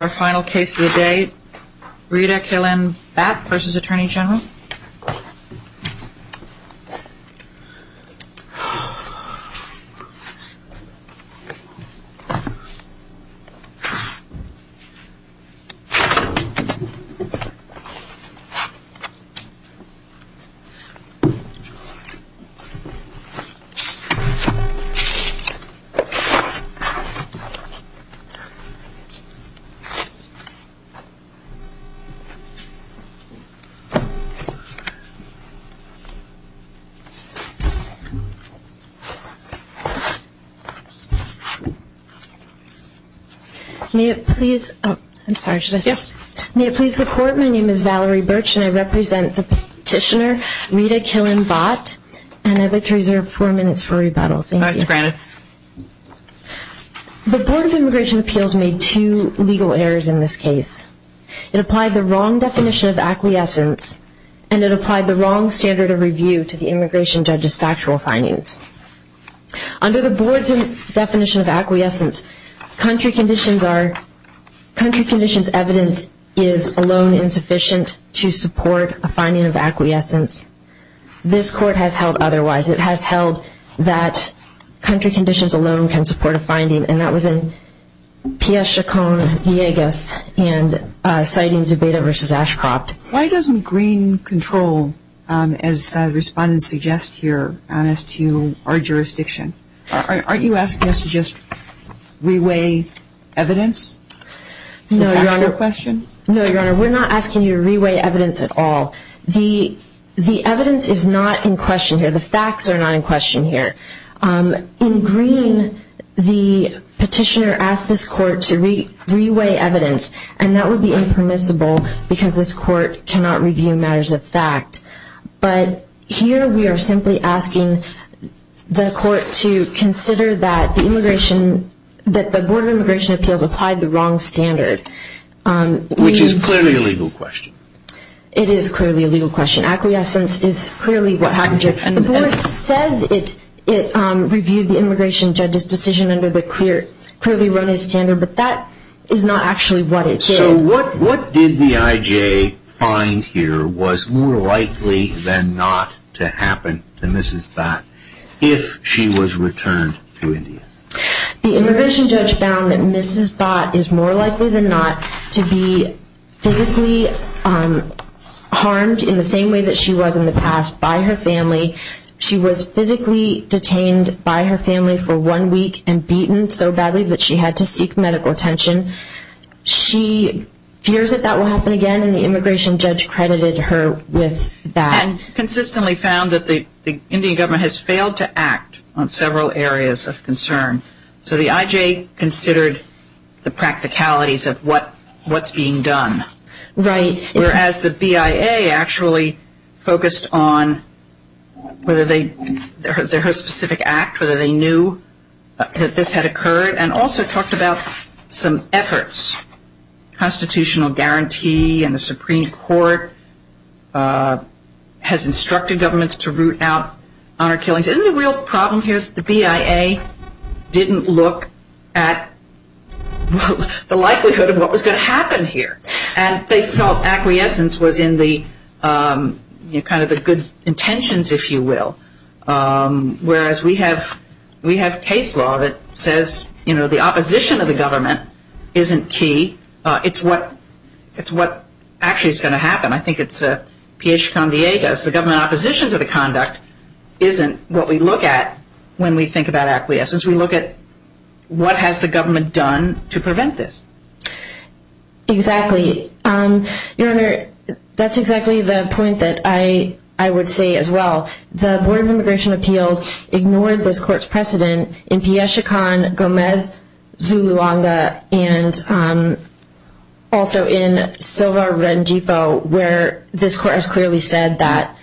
Our final case of the day, Rita Killen-Batt v. Atty Gen May it please the court, my name is Valerie Birch and I represent the petitioner Rita Killen-Batt and I'd like to reserve four minutes for rebuttal. The Board of Immigration Appeals made two legal errors in this case. It applied the wrong definition of acquiescence and it applied the wrong standard of review to the immigration judge's factual findings. Under the Board's definition of acquiescence, country conditions evidence is alone insufficient to support a finding of acquiescence. This court has held otherwise. It has held that country conditions alone can support a finding and that was in P.S. Chacon-Villegas and citing Zubeda v. Ashcroft. Why doesn't green control, as respondents suggest here, as to our jurisdiction? Aren't you asking us to just re-weigh evidence? No, Your Honor. Is that your question? No, Your Honor. We're not asking you to re-weigh evidence at all. The evidence is not in question here. The facts are not in question here. In green, the petitioner asked this court to re-weigh evidence and that would be impermissible because this court cannot review matters of fact. But here we are simply asking the court to consider that the Board of Immigration Appeals applied the wrong standard. Which is clearly a legal question. It is clearly a legal question. Acquiescence is clearly what happened here. The Board says it reviewed the immigration judge's decision under the clearly run-as-standard but that is not actually what it did. So what did the I.J. find here was more likely than not to happen to Mrs. Batt if she was returned to India? The immigration judge found that Mrs. Batt is more likely than not to be physically harmed in the same way that she was in the past by her family. She was physically detained by her family for one week and beaten so badly that she had to seek medical attention. She fears that that will happen again and the immigration judge credited her with that. And consistently found that the Indian government has failed to act on several areas of concern. So the I.J. considered the practicalities of what is being done. Right. Whereas the BIA actually focused on whether they, their specific act, whether they knew that this had occurred. And also talked about some efforts. Constitutional guarantee and the Supreme Court has instructed governments to root out honor killings. Isn't the real problem here that the BIA didn't look at the likelihood of what was going to happen here? And they felt acquiescence was in the kind of the good intentions, if you will. Whereas we have, we have case law that says, you know, the opposition of the government isn't key. It's what, it's what actually is going to happen. I think it's a P.H. Convillegas. The government opposition to the conduct isn't what we look at when we think about acquiescence. We look at what has the government done to prevent this? Exactly. Your Honor, that's exactly the point that I, I would say as well. The Board of Immigration Appeals ignored this court's precedent in P.S. Chacon, Gomez, Zuluanga, and also in Silva-Rendifo where this court has clearly said that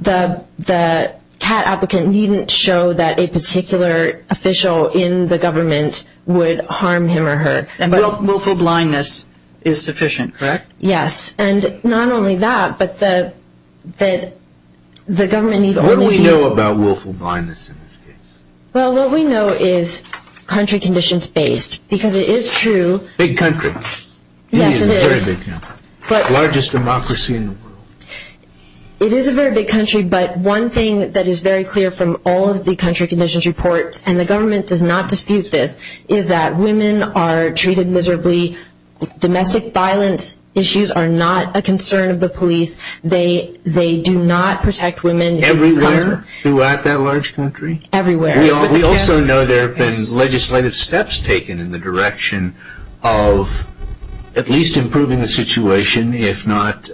the, the CAT applicant needn't show that a particular official in the government would harm him or her. And willful blindness is sufficient, correct? Yes, and not only that, but the, that the government need only be. What do we know about willful blindness in this case? Well, what we know is country conditions based, because it is true. Big country. Yes, it is. It is a very big country. Largest democracy in the world. It is a very big country, but one thing that is very clear from all of the country conditions reports, and the government does not dispute this, is that women are treated miserably. Domestic violence issues are not a concern of the police. They, they do not protect women. Everywhere throughout that large country? Everywhere. We also know there have been legislative steps taken in the direction of at least improving the situation, if not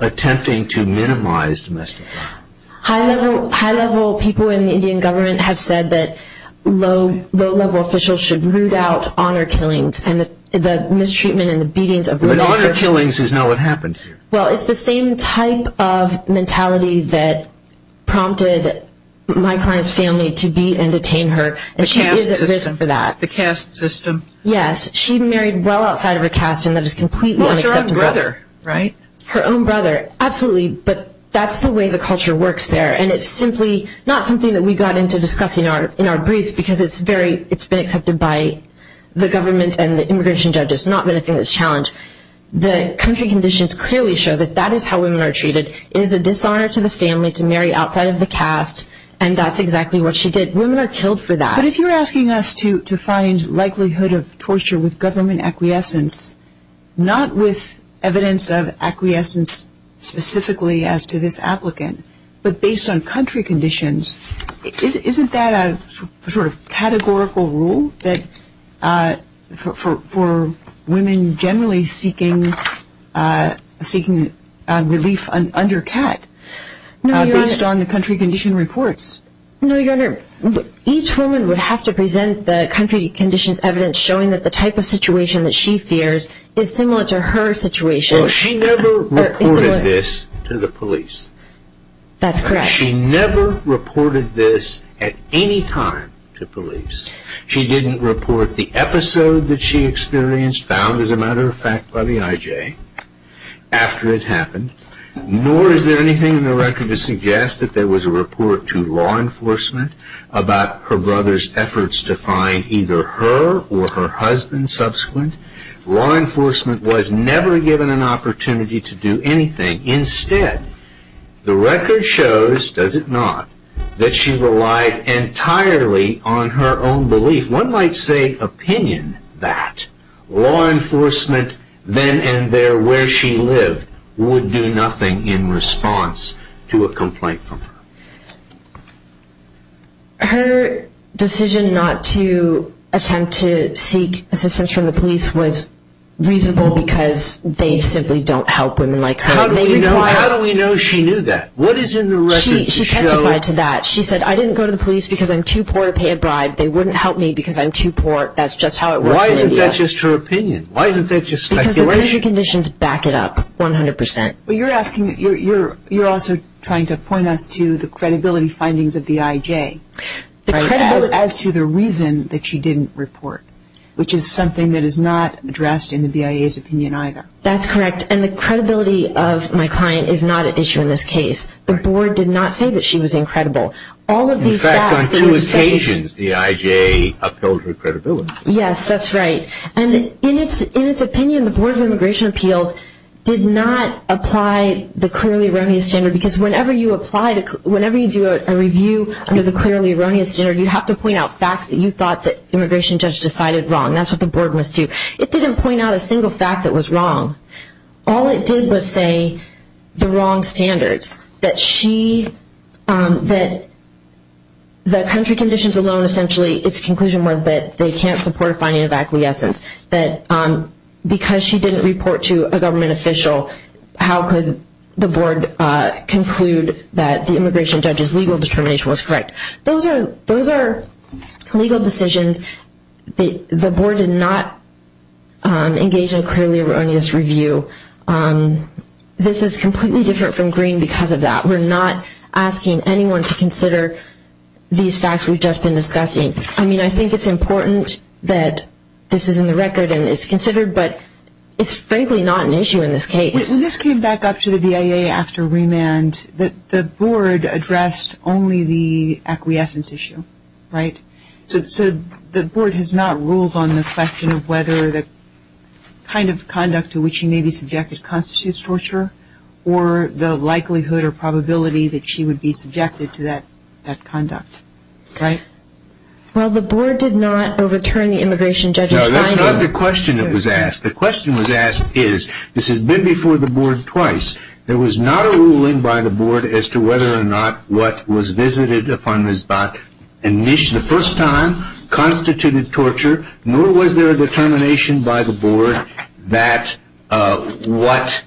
attempting to minimize domestic violence. High-level, high-level people in the Indian government have said that low, low-level officials should root out honor killings and the, the mistreatment and the beatings of women. But honor killings is not what happened here. Well, it's the same type of mentality that prompted my client's family to beat and detain her. The caste system. And she isn't risen for that. The caste system. Yes, she married well outside of her caste and that is completely unacceptable. Well, it's her own brother, right? Her own brother. Absolutely. But that's the way the culture works there. And it's simply not something that we got into discussing in our briefs because it's very, it's been accepted by the government and the immigration judges, not been a thing that's challenged. The country conditions clearly show that that is how women are treated. It is a dishonor to the family to marry outside of the caste and that's exactly what she did. Women are killed for that. But if you're asking us to, to find likelihood of torture with government acquiescence, not with evidence of acquiescence specifically as to this applicant, but based on country conditions, isn't that a sort of categorical rule for women generally seeking relief under CAT based on the country condition reports? No, Your Honor, each woman would have to present the country conditions evidence showing that the type of situation that she fears is similar to her situation. Well, she never reported this to the police. That's correct. She never reported this at any time to police. She didn't report the episode that she experienced found, as a matter of fact, by the IJ after it happened, nor is there anything in the record to suggest that there was a report to law enforcement about her brother's efforts to find either her or her husband subsequent. Law enforcement was never given an opportunity to do anything. Instead, the record shows, does it not, that she relied entirely on her own belief. One might say opinion that law enforcement then and there where she lived would do nothing in response to a complaint from her. Her decision not to attempt to seek assistance from the police was reasonable because they simply don't help women like her. How do we know she knew that? She testified to that. She said, I didn't go to the police because I'm too poor to pay a bribe. They wouldn't help me because I'm too poor. That's just how it works in India. Why isn't that just her opinion? Why isn't that just speculation? Because the country conditions back it up 100%. You're also trying to point us to the credibility findings of the IJ as to the reason that she didn't report, which is something that is not addressed in the BIA's opinion either. That's correct, and the credibility of my client is not at issue in this case. The board did not say that she was incredible. In fact, on two occasions, the IJ upheld her credibility. Yes, that's right. In its opinion, the Board of Immigration Appeals did not apply the clearly erroneous standard because whenever you do a review under the clearly erroneous standard, you have to point out facts that you thought the immigration judge decided wrong. That's what the board must do. It didn't point out a single fact that was wrong. All it did was say the wrong standards, that the country conditions alone essentially, its conclusion was that they can't support a finding of acquiescence, that because she didn't report to a government official, how could the board conclude that the immigration judge's legal determination was correct? Those are legal decisions. The board did not engage in a clearly erroneous review. This is completely different from Green because of that. We're not asking anyone to consider these facts we've just been discussing. I mean, I think it's important that this is in the record and it's considered, but it's frankly not an issue in this case. When this came back up to the BIA after remand, the board addressed only the acquiescence issue, right? So the board has not ruled on the question of whether the kind of conduct to which she may be subjected constitutes torture or the likelihood or probability that she would be subjected to that conduct, right? Well, the board did not overturn the immigration judge's finding. No, that's not the question that was asked. The question was asked is, this has been before the board twice, there was not a ruling by the board as to whether or not what was visited upon Ms. Bach the first time constituted torture, nor was there a determination by the board that what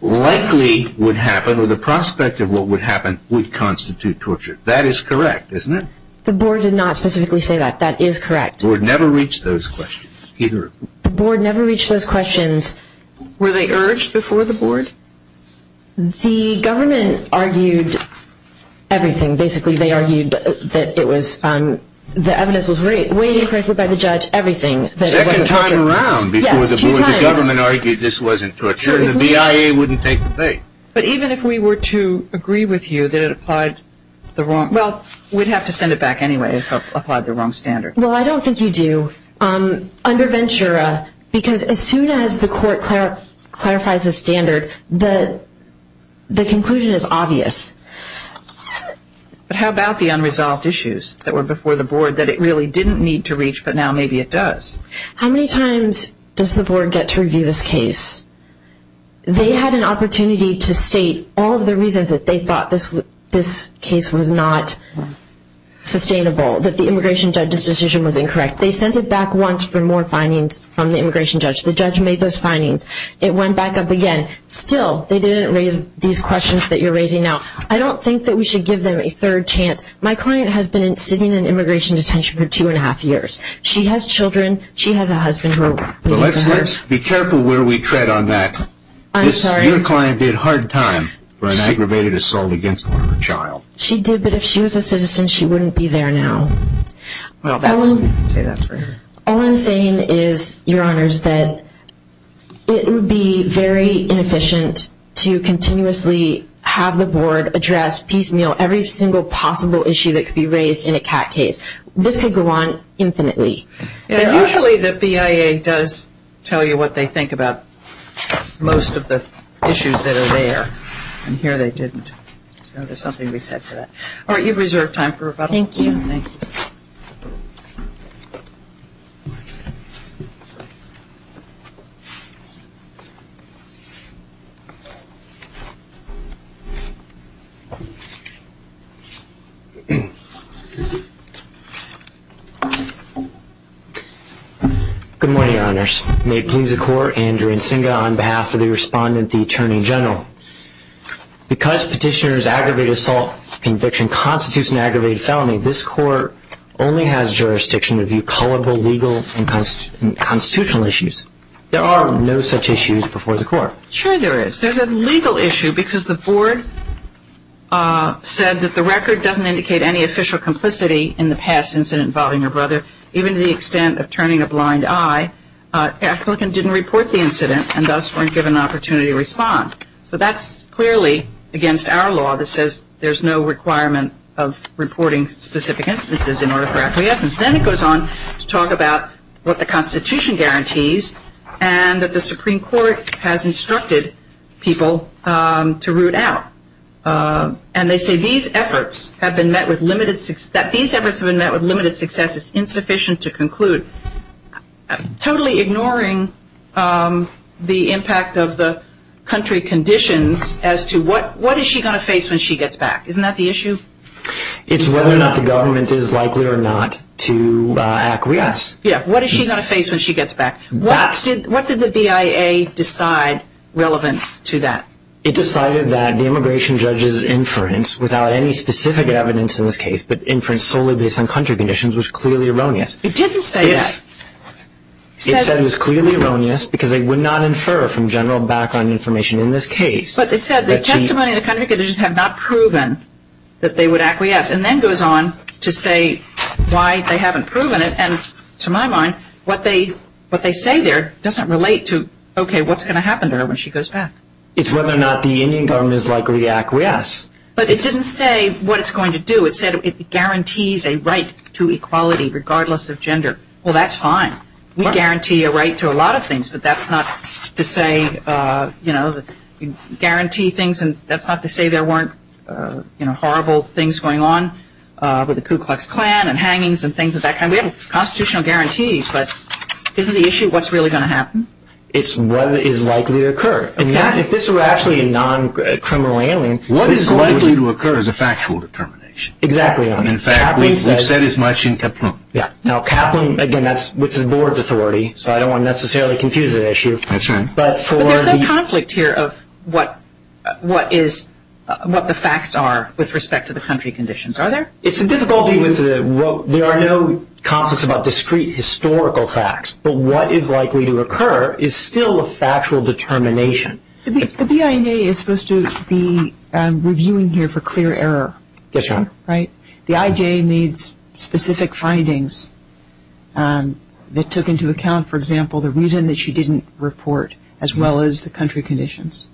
likely would happen or the prospect of what would happen would constitute torture. That is correct, isn't it? The board did not specifically say that. That is correct. The board never reached those questions, either. The board never reached those questions. Were they urged before the board? The government argued everything. Basically, they argued that the evidence was weighed incorrectly by the judge, everything. The second time around before the board, the government argued this wasn't torture, and the BIA wouldn't take the bait. But even if we were to agree with you that it applied the wrong, well, we'd have to send it back anyway if it applied the wrong standard. Well, I don't think you do. Under Ventura, because as soon as the court clarifies the standard, the conclusion is obvious. But how about the unresolved issues that were before the board that it really didn't need to reach, but now maybe it does? How many times does the board get to review this case? They had an opportunity to state all of the reasons that they thought this case was not sustainable, that the immigration judge's decision was incorrect. They sent it back once for more findings from the immigration judge. The judge made those findings. It went back up again. Still, they didn't raise these questions that you're raising now. I don't think that we should give them a third chance. My client has been sitting in immigration detention for two and a half years. She has children. She has a husband. Let's be careful where we tread on that. I'm sorry. Your client did hard time for an aggravated assault against her child. She did, but if she was a citizen, she wouldn't be there now. All I'm saying is, Your Honors, that it would be very inefficient to continuously have the board address piecemeal every single possible issue that could be raised in a CAT case. This could go on infinitely. Usually the BIA does tell you what they think about most of the issues that are there. And here they didn't. There's something to be said for that. All right, you've reserved time for rebuttal. Thank you. Good morning, Your Honors. May it please the Court, Andrew Nsinga on behalf of the Respondent, the Attorney General. Because Petitioner's aggravated assault conviction constitutes an aggravated felony, this Court only has jurisdiction to view culpable legal and constitutional issues. There are no such issues before the Court. Sure there is. There's a legal issue because the board said that the record doesn't indicate any official complicity in the past incident involving her brother, even to the extent of turning a blind eye. The applicant didn't report the incident and thus weren't given an opportunity to respond. So that's clearly against our law that says there's no requirement of reporting specific instances in order for acquiescence. Then it goes on to talk about what the Constitution guarantees and that the Supreme Court has instructed people to root out. And they say these efforts have been met with limited success. It's insufficient to conclude. Totally ignoring the impact of the country conditions as to what is she going to face when she gets back. Isn't that the issue? It's whether or not the government is likely or not to acquiesce. What is she going to face when she gets back? What did the BIA decide relevant to that? It decided that the immigration judge's inference, without any specific evidence in this case, but inference solely based on country conditions, was clearly erroneous. It didn't say that. It said it was clearly erroneous because it would not infer from general background information in this case. But they said the testimony of the country conditions had not proven that they would acquiesce. And then goes on to say why they haven't proven it. And to my mind, what they say there doesn't relate to, okay, what's going to happen to her when she goes back. It's whether or not the Indian government is likely to acquiesce. But it didn't say what it's going to do. It said it guarantees a right to equality regardless of gender. Well, that's fine. We guarantee a right to a lot of things. But that's not to say, you know, guarantee things and that's not to say there weren't, you know, horrible things going on with the Ku Klux Klan and hangings and things of that kind. We have constitutional guarantees. But isn't the issue what's really going to happen? It's what is likely to occur. If this were actually a non-criminal alien, what is likely to occur is a factual determination. Exactly. In fact, we've said as much in Kaplan. Yeah. Now, Kaplan, again, that's with the board's authority, so I don't want to necessarily confuse the issue. That's right. But there's that conflict here of what the facts are with respect to the country conditions. Are there? It's a difficulty. There are no conflicts about discrete historical facts. But what is likely to occur is still a factual determination. The BIA is supposed to be reviewing here for clear error. Yes, Your Honor. Right. The IJ needs specific findings that took into account, for example, the reason that she didn't report as well as the country conditions.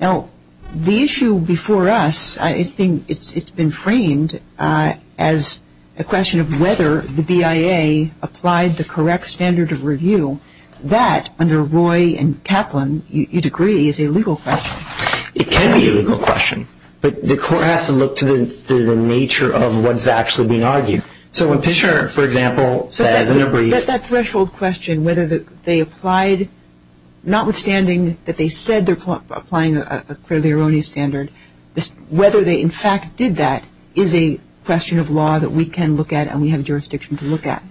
Now, the issue before us, I think it's been framed as a question of whether the BIA applied the correct standard of review. That, under Roy and Kaplan, you'd agree, is a legal question. It can be a legal question, but the court has to look to the nature of what's actually being argued. So when Pitcher, for example, says in a brief – But that threshold question, whether they applied, notwithstanding that they said they're applying a clearly erroneous standard, whether they in fact did that is a question of law that we can look at and we have jurisdiction to look at.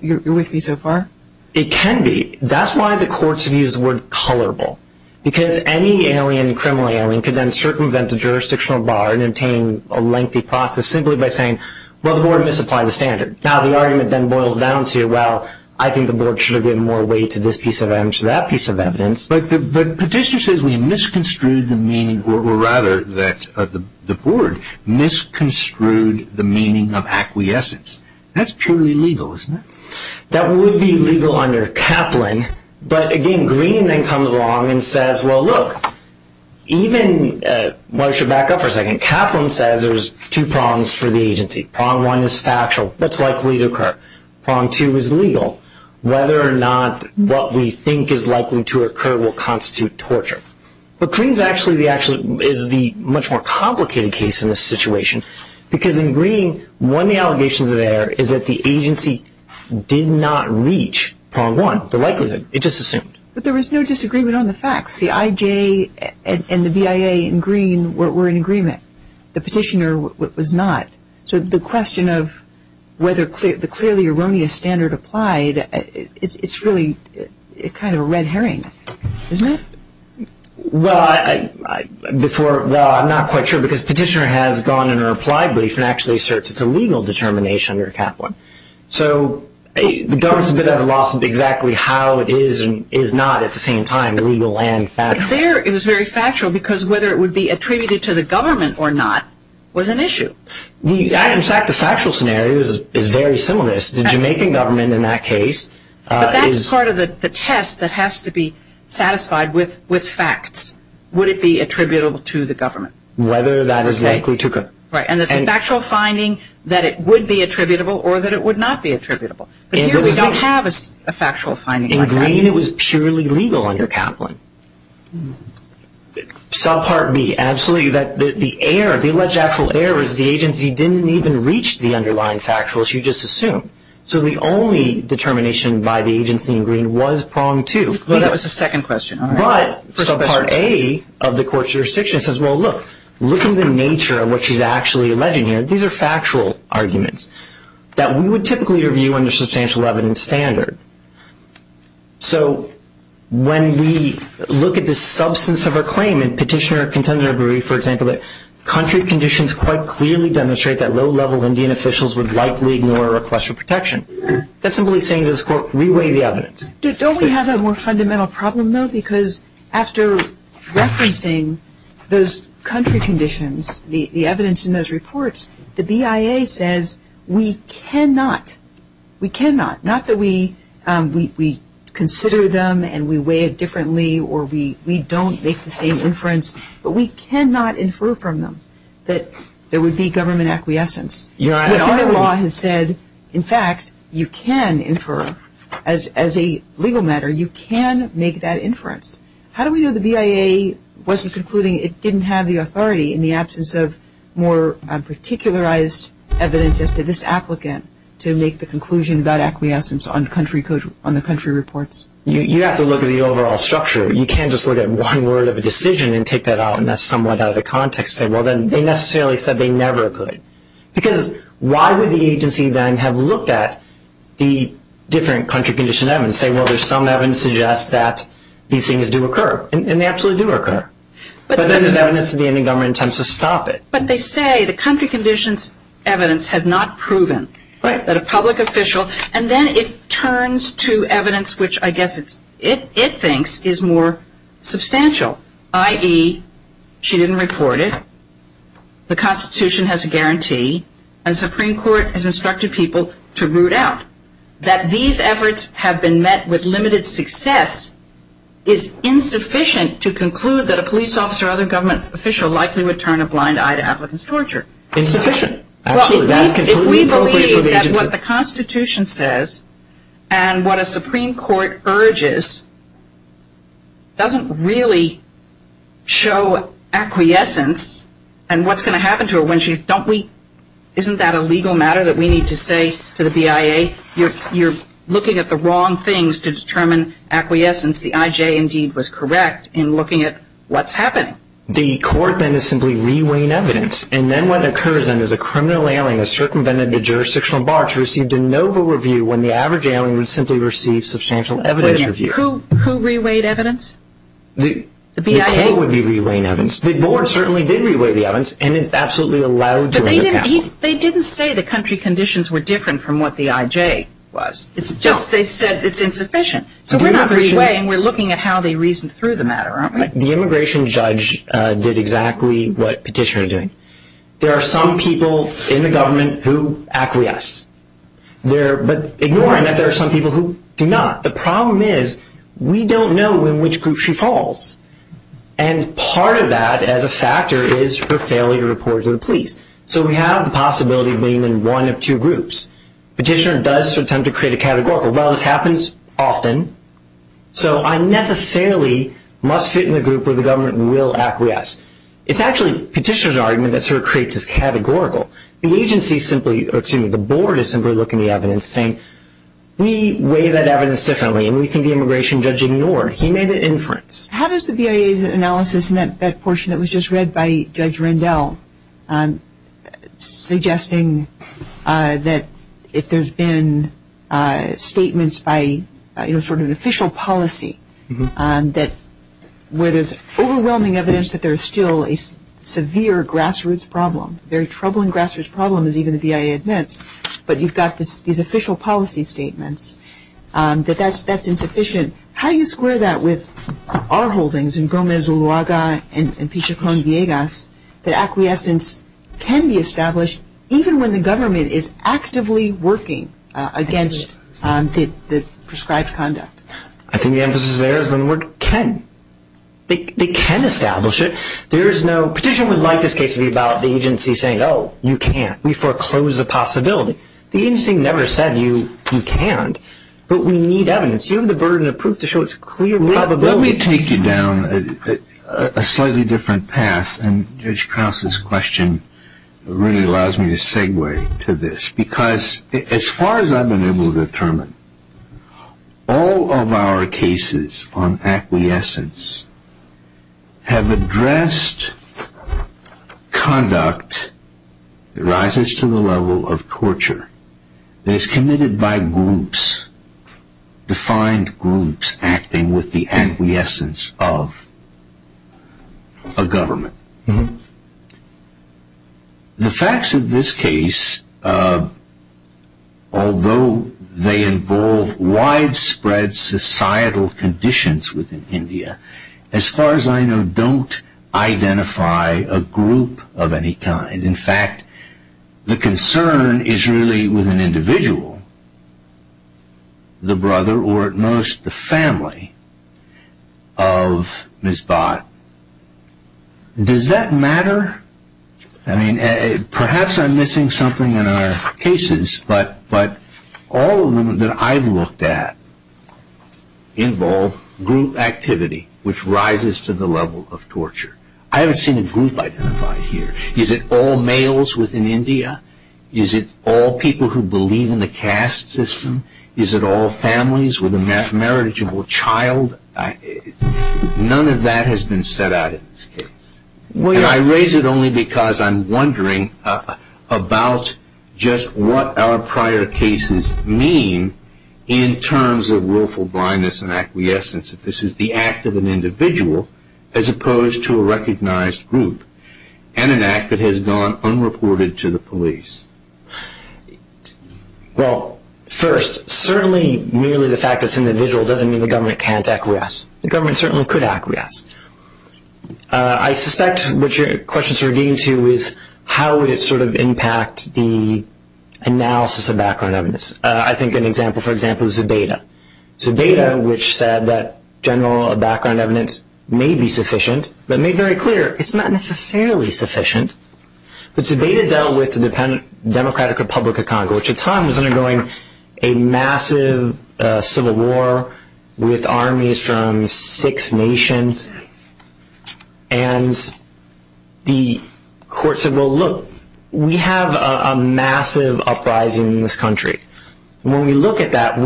You're with me so far? It can be. That's why the courts have used the word colorable, because any alien, criminal alien could then circumvent the jurisdictional bar and obtain a lengthy process simply by saying, well, the board misapplied the standard. Now, the argument then boils down to, well, I think the board should have given more weight to this piece of evidence than that piece of evidence. But Pitcher says we misconstrued the meaning, or rather that the board misconstrued the meaning of acquiescence. That's purely legal, isn't it? That would be legal under Kaplan. But, again, Green then comes along and says, well, look, even – I should back up for a second. Kaplan says there's two prongs for the agency. Prong one is factual. What's likely to occur? Prong two is legal. Whether or not what we think is likely to occur will constitute torture. But Green is actually the much more complicated case in this situation, because in Green, one of the allegations there is that the agency did not reach prong one, the likelihood. It just assumed. But there was no disagreement on the facts. The IJ and the BIA in Green were in agreement. The petitioner was not. So the question of whether the clearly erroneous standard applied, it's really kind of a red herring, isn't it? Well, I'm not quite sure, because petitioner has gone in her applied brief and actually asserts it's a legal determination under Kaplan. So the government's a bit at a loss of exactly how it is and is not at the same time legal and factual. It was very factual because whether it would be attributed to the government or not was an issue. In fact, the factual scenario is very similar to this. The Jamaican government in that case is – With facts, would it be attributable to the government? Whether that is likely to occur. Right. And it's a factual finding that it would be attributable or that it would not be attributable. But here we don't have a factual finding like that. In Green, it was purely legal under Kaplan. Subpart B, absolutely. The alleged actual error is the agency didn't even reach the underlying factual, as you just assumed. So the only determination by the agency in Green was prong two. That was the second question. But subpart A of the court's jurisdiction says, well, look. Look at the nature of what she's actually alleging here. These are factual arguments that we would typically review under substantial evidence standard. So when we look at the substance of her claim in petitioner or contender brief, for example, country conditions quite clearly demonstrate that low-level Indian officials would likely ignore a request for protection. That's simply saying to this court, reweigh the evidence. Don't we have a more fundamental problem, though? Because after referencing those country conditions, the evidence in those reports, the BIA says we cannot. We cannot. Not that we consider them and we weigh it differently or we don't make the same inference, but we cannot infer from them that there would be government acquiescence. Our law has said, in fact, you can infer as a legal matter. You can make that inference. How do we know the BIA wasn't concluding it didn't have the authority in the absence of more particularized evidence as to this applicant to make the conclusion about acquiescence on the country reports? You have to look at the overall structure. You can't just look at one word of a decision and take that out and that's somewhat out of the context. Well, then they necessarily said they never could. Because why would the agency then have looked at the different country condition evidence and say, well, there's some evidence that suggests that these things do occur, and they absolutely do occur. But then there's evidence that the Indian government intends to stop it. But they say the country conditions evidence had not proven that a public official and then it turns to evidence which I guess it thinks is more substantial, i.e., she didn't report it, the Constitution has a guarantee, and the Supreme Court has instructed people to root out. That these efforts have been met with limited success is insufficient to conclude that a police officer or other government official likely would turn a blind eye to applicants' torture. Insufficient. Absolutely. If we believe that what the Constitution says and what a Supreme Court urges doesn't really show acquiescence and what's going to happen to her when she, don't we, isn't that a legal matter that we need to say to the BIA? You're looking at the wrong things to determine acquiescence. The IJ, indeed, was correct in looking at what's happening. The court then is simply re-weighing evidence. And then what occurs then is a criminal alien is circumvented the jurisdictional bar to receive de novo review when the average alien would simply receive substantial evidence review. Who re-weighed evidence? The BIA? The court would be re-weighing evidence. The board certainly did re-weigh the evidence, and it's absolutely allowed to. But they didn't say the country conditions were different from what the IJ was. It's just they said it's insufficient. So we're not re-weighing, we're looking at how they reasoned through the matter, aren't we? The immigration judge did exactly what petitioners are doing. There are some people in the government who acquiesce. But ignoring that there are some people who do not. The problem is we don't know in which group she falls. And part of that as a factor is her failure to report to the police. So we have the possibility of being in one of two groups. Petitioner does attempt to create a categorical. Well, this happens often. So I necessarily must fit in a group where the government will acquiesce. It's actually petitioner's argument that sort of creates this categorical. The agency simply, or excuse me, the board is simply looking at the evidence and saying we weigh that evidence differently and we think the immigration judge ignored. He made an inference. How does the BIA's analysis in that portion that was just read by Judge Rendell suggesting that if there's been statements by, you know, sort of an official policy where there's overwhelming evidence that there's still a severe grassroots problem, a very troubling grassroots problem as even the BIA admits, but you've got these official policy statements, that that's insufficient. How do you square that with our holdings in Gomez-Uluaga and Pichacón-Villegas, that acquiescence can be established even when the government is actively working against the prescribed conduct? I think the emphasis there is on the word can. They can establish it. There is no petitioner would like this case to be about the agency saying, oh, you can't. We foreclose a possibility. The agency never said you can't, but we need evidence. You have the burden of proof to show it's a clear probability. Let me take you down a slightly different path, and Judge Krause's question really allows me to segue to this, because as far as I've been able to determine, all of our cases on acquiescence have addressed conduct that rises to the level of torture that is committed by groups, defined groups acting with the acquiescence of a government. The facts of this case, although they involve widespread societal conditions within India, as far as I know, don't identify a group of any kind. In fact, the concern is really with an individual, the brother or at most the family of Ms. Bhatt. Does that matter? Perhaps I'm missing something in our cases, but all of them that I've looked at involve group activity, which rises to the level of torture. I haven't seen a group identified here. Is it all males within India? Is it all people who believe in the caste system? Is it all families with a marriageable child? None of that has been set out in this case. I raise it only because I'm wondering about just what our prior cases mean in terms of willful blindness and acquiescence. If this is the act of an individual as opposed to a recognized group, and an act that has gone unreported to the police. Well, first, certainly merely the fact that it's an individual doesn't mean the government can't acquiesce. The government certainly could acquiesce. I suspect what your questions are getting to is how would it sort of impact the analysis of background evidence. I think an example for example is Zubeda. Zubeda, which said that general background evidence may be sufficient, but made very clear it's not necessarily sufficient. Zubeda dealt with the Democratic Republic of Congo, which at the time was undergoing a massive civil war with armies from six nations. The court said, well, look, we have a massive uprising in this country. When we look at that,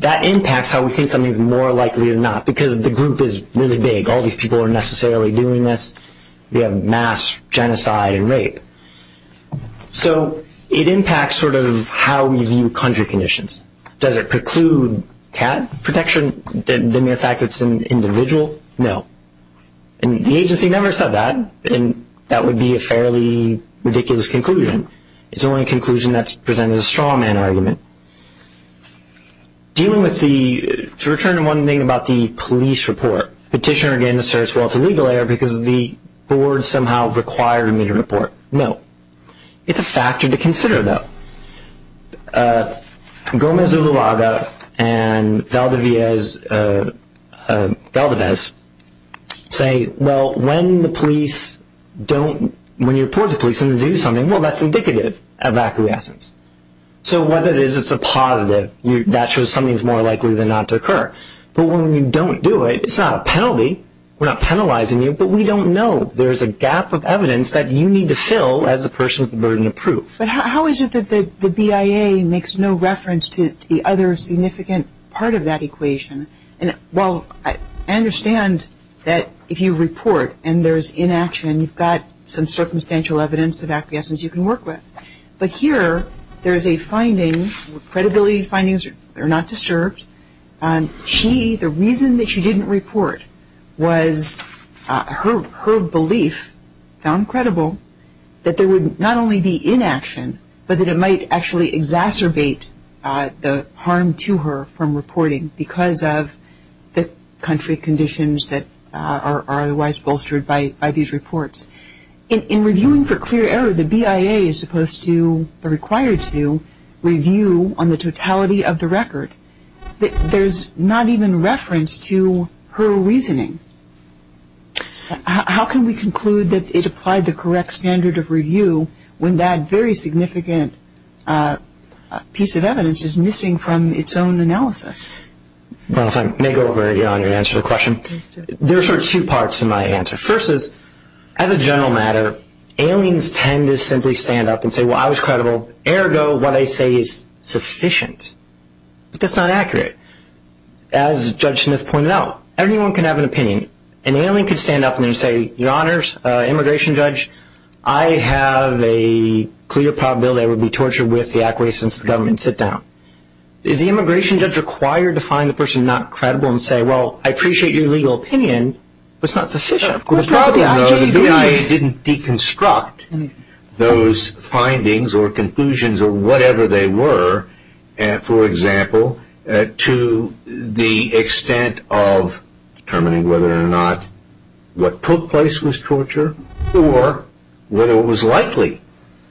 that impacts how we think something is more likely than not, because the group is really big. All these people are necessarily doing this. We have mass genocide and rape. So it impacts sort of how we view country conditions. Does it preclude cat protection, the mere fact that it's an individual? No. And the agency never said that, and that would be a fairly ridiculous conclusion. It's only a conclusion that's presented as a straw man argument. To return to one thing about the police report, petitioner again asserts, well, it's a legal error because the board somehow required me to report. No. It's a factor to consider, though. Gomez Uluaga and Valdez say, well, when you report to police and they do something, well, that's indicative of acquiescence. So whether it is it's a positive, that shows something is more likely than not to occur. But when you don't do it, it's not a penalty. We're not penalizing you, but we don't know. There's a gap of evidence that you need to fill as a person with a burden of proof. But how is it that the BIA makes no reference to the other significant part of that equation? And, well, I understand that if you report and there's inaction, you've got some circumstantial evidence of acquiescence you can work with. But here there is a finding, credibility findings are not disturbed. She, the reason that she didn't report was her belief, found credible, that there would not only be inaction, but that it might actually exacerbate the harm to her from reporting because of the country conditions that are otherwise bolstered by these reports. In reviewing for clear error, the BIA is supposed to or required to review on the totality of the record. There's not even reference to her reasoning. How can we conclude that it applied the correct standard of review when that very significant piece of evidence is missing from its own analysis? Well, if I may go over it, Your Honor, to answer the question. Please do. There are sort of two parts to my answer. First is, as a general matter, aliens tend to simply stand up and say, well, I was credible. Ergo, what I say is sufficient. But that's not accurate. As Judge Smith pointed out, everyone can have an opinion. An alien could stand up and then say, Your Honors, Immigration Judge, I have a clear probability I would be tortured with the acquiescence of the government and sit down. Is the Immigration Judge required to find the person not credible and say, well, I appreciate your legal opinion, but it's not sufficient? Of course not. The BIA didn't deconstruct those findings or conclusions or whatever they were, for example, to the extent of determining whether or not what took place was torture or whether what was likely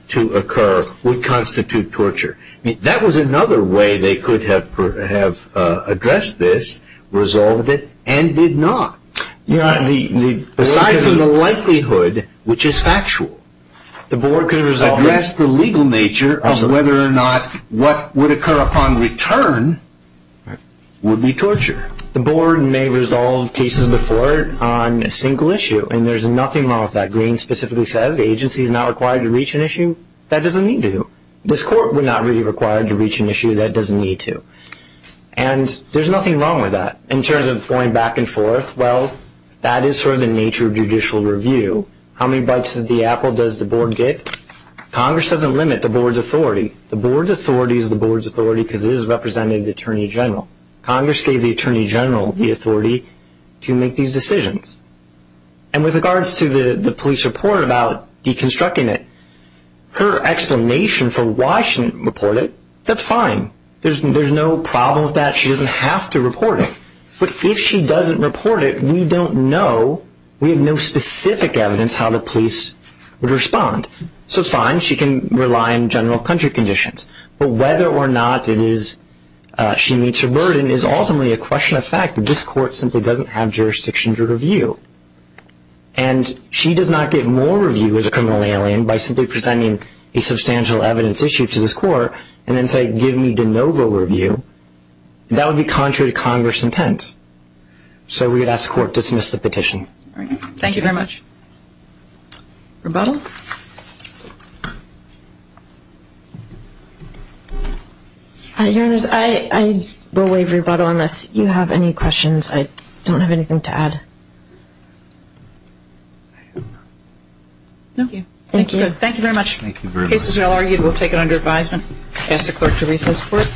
to occur would constitute torture. I mean, that was another way they could have addressed this, resolved it, and did not. Your Honor, aside from the likelihood, which is factual, address the legal nature of whether or not what would occur upon return would be torture. The board may resolve cases before on a single issue, and there's nothing wrong with that. Green specifically says the agency is not required to reach an issue. That doesn't need to do. This court would not be required to reach an issue. That doesn't need to. And there's nothing wrong with that. In terms of going back and forth, well, that is sort of the nature of judicial review. How many bites of the apple does the board get? Congress doesn't limit the board's authority. The board's authority is the board's authority because it is representing the Attorney General. Congress gave the Attorney General the authority to make these decisions. And with regards to the police report about deconstructing it, her explanation for why she didn't report it, that's fine. There's no problem with that. She doesn't have to report it. But if she doesn't report it, we don't know. We have no specific evidence how the police would respond. So it's fine. She can rely on general country conditions. But whether or not it is she meets her burden is ultimately a question of fact. This court simply doesn't have jurisdiction to review. And she does not give more review as a criminal alien by simply presenting a substantial evidence issue to this court and then say, give me de novo review. That would be contrary to Congress' intent. So we would ask the court to dismiss the petition. Thank you very much. Rebuttal? Your Honors, I will waive rebuttal unless you have any questions. I don't have anything to add. No. Thank you. Thank you very much. The case is now argued. We'll take it under advisement. I ask the clerk to recess for it. Thank you, guys.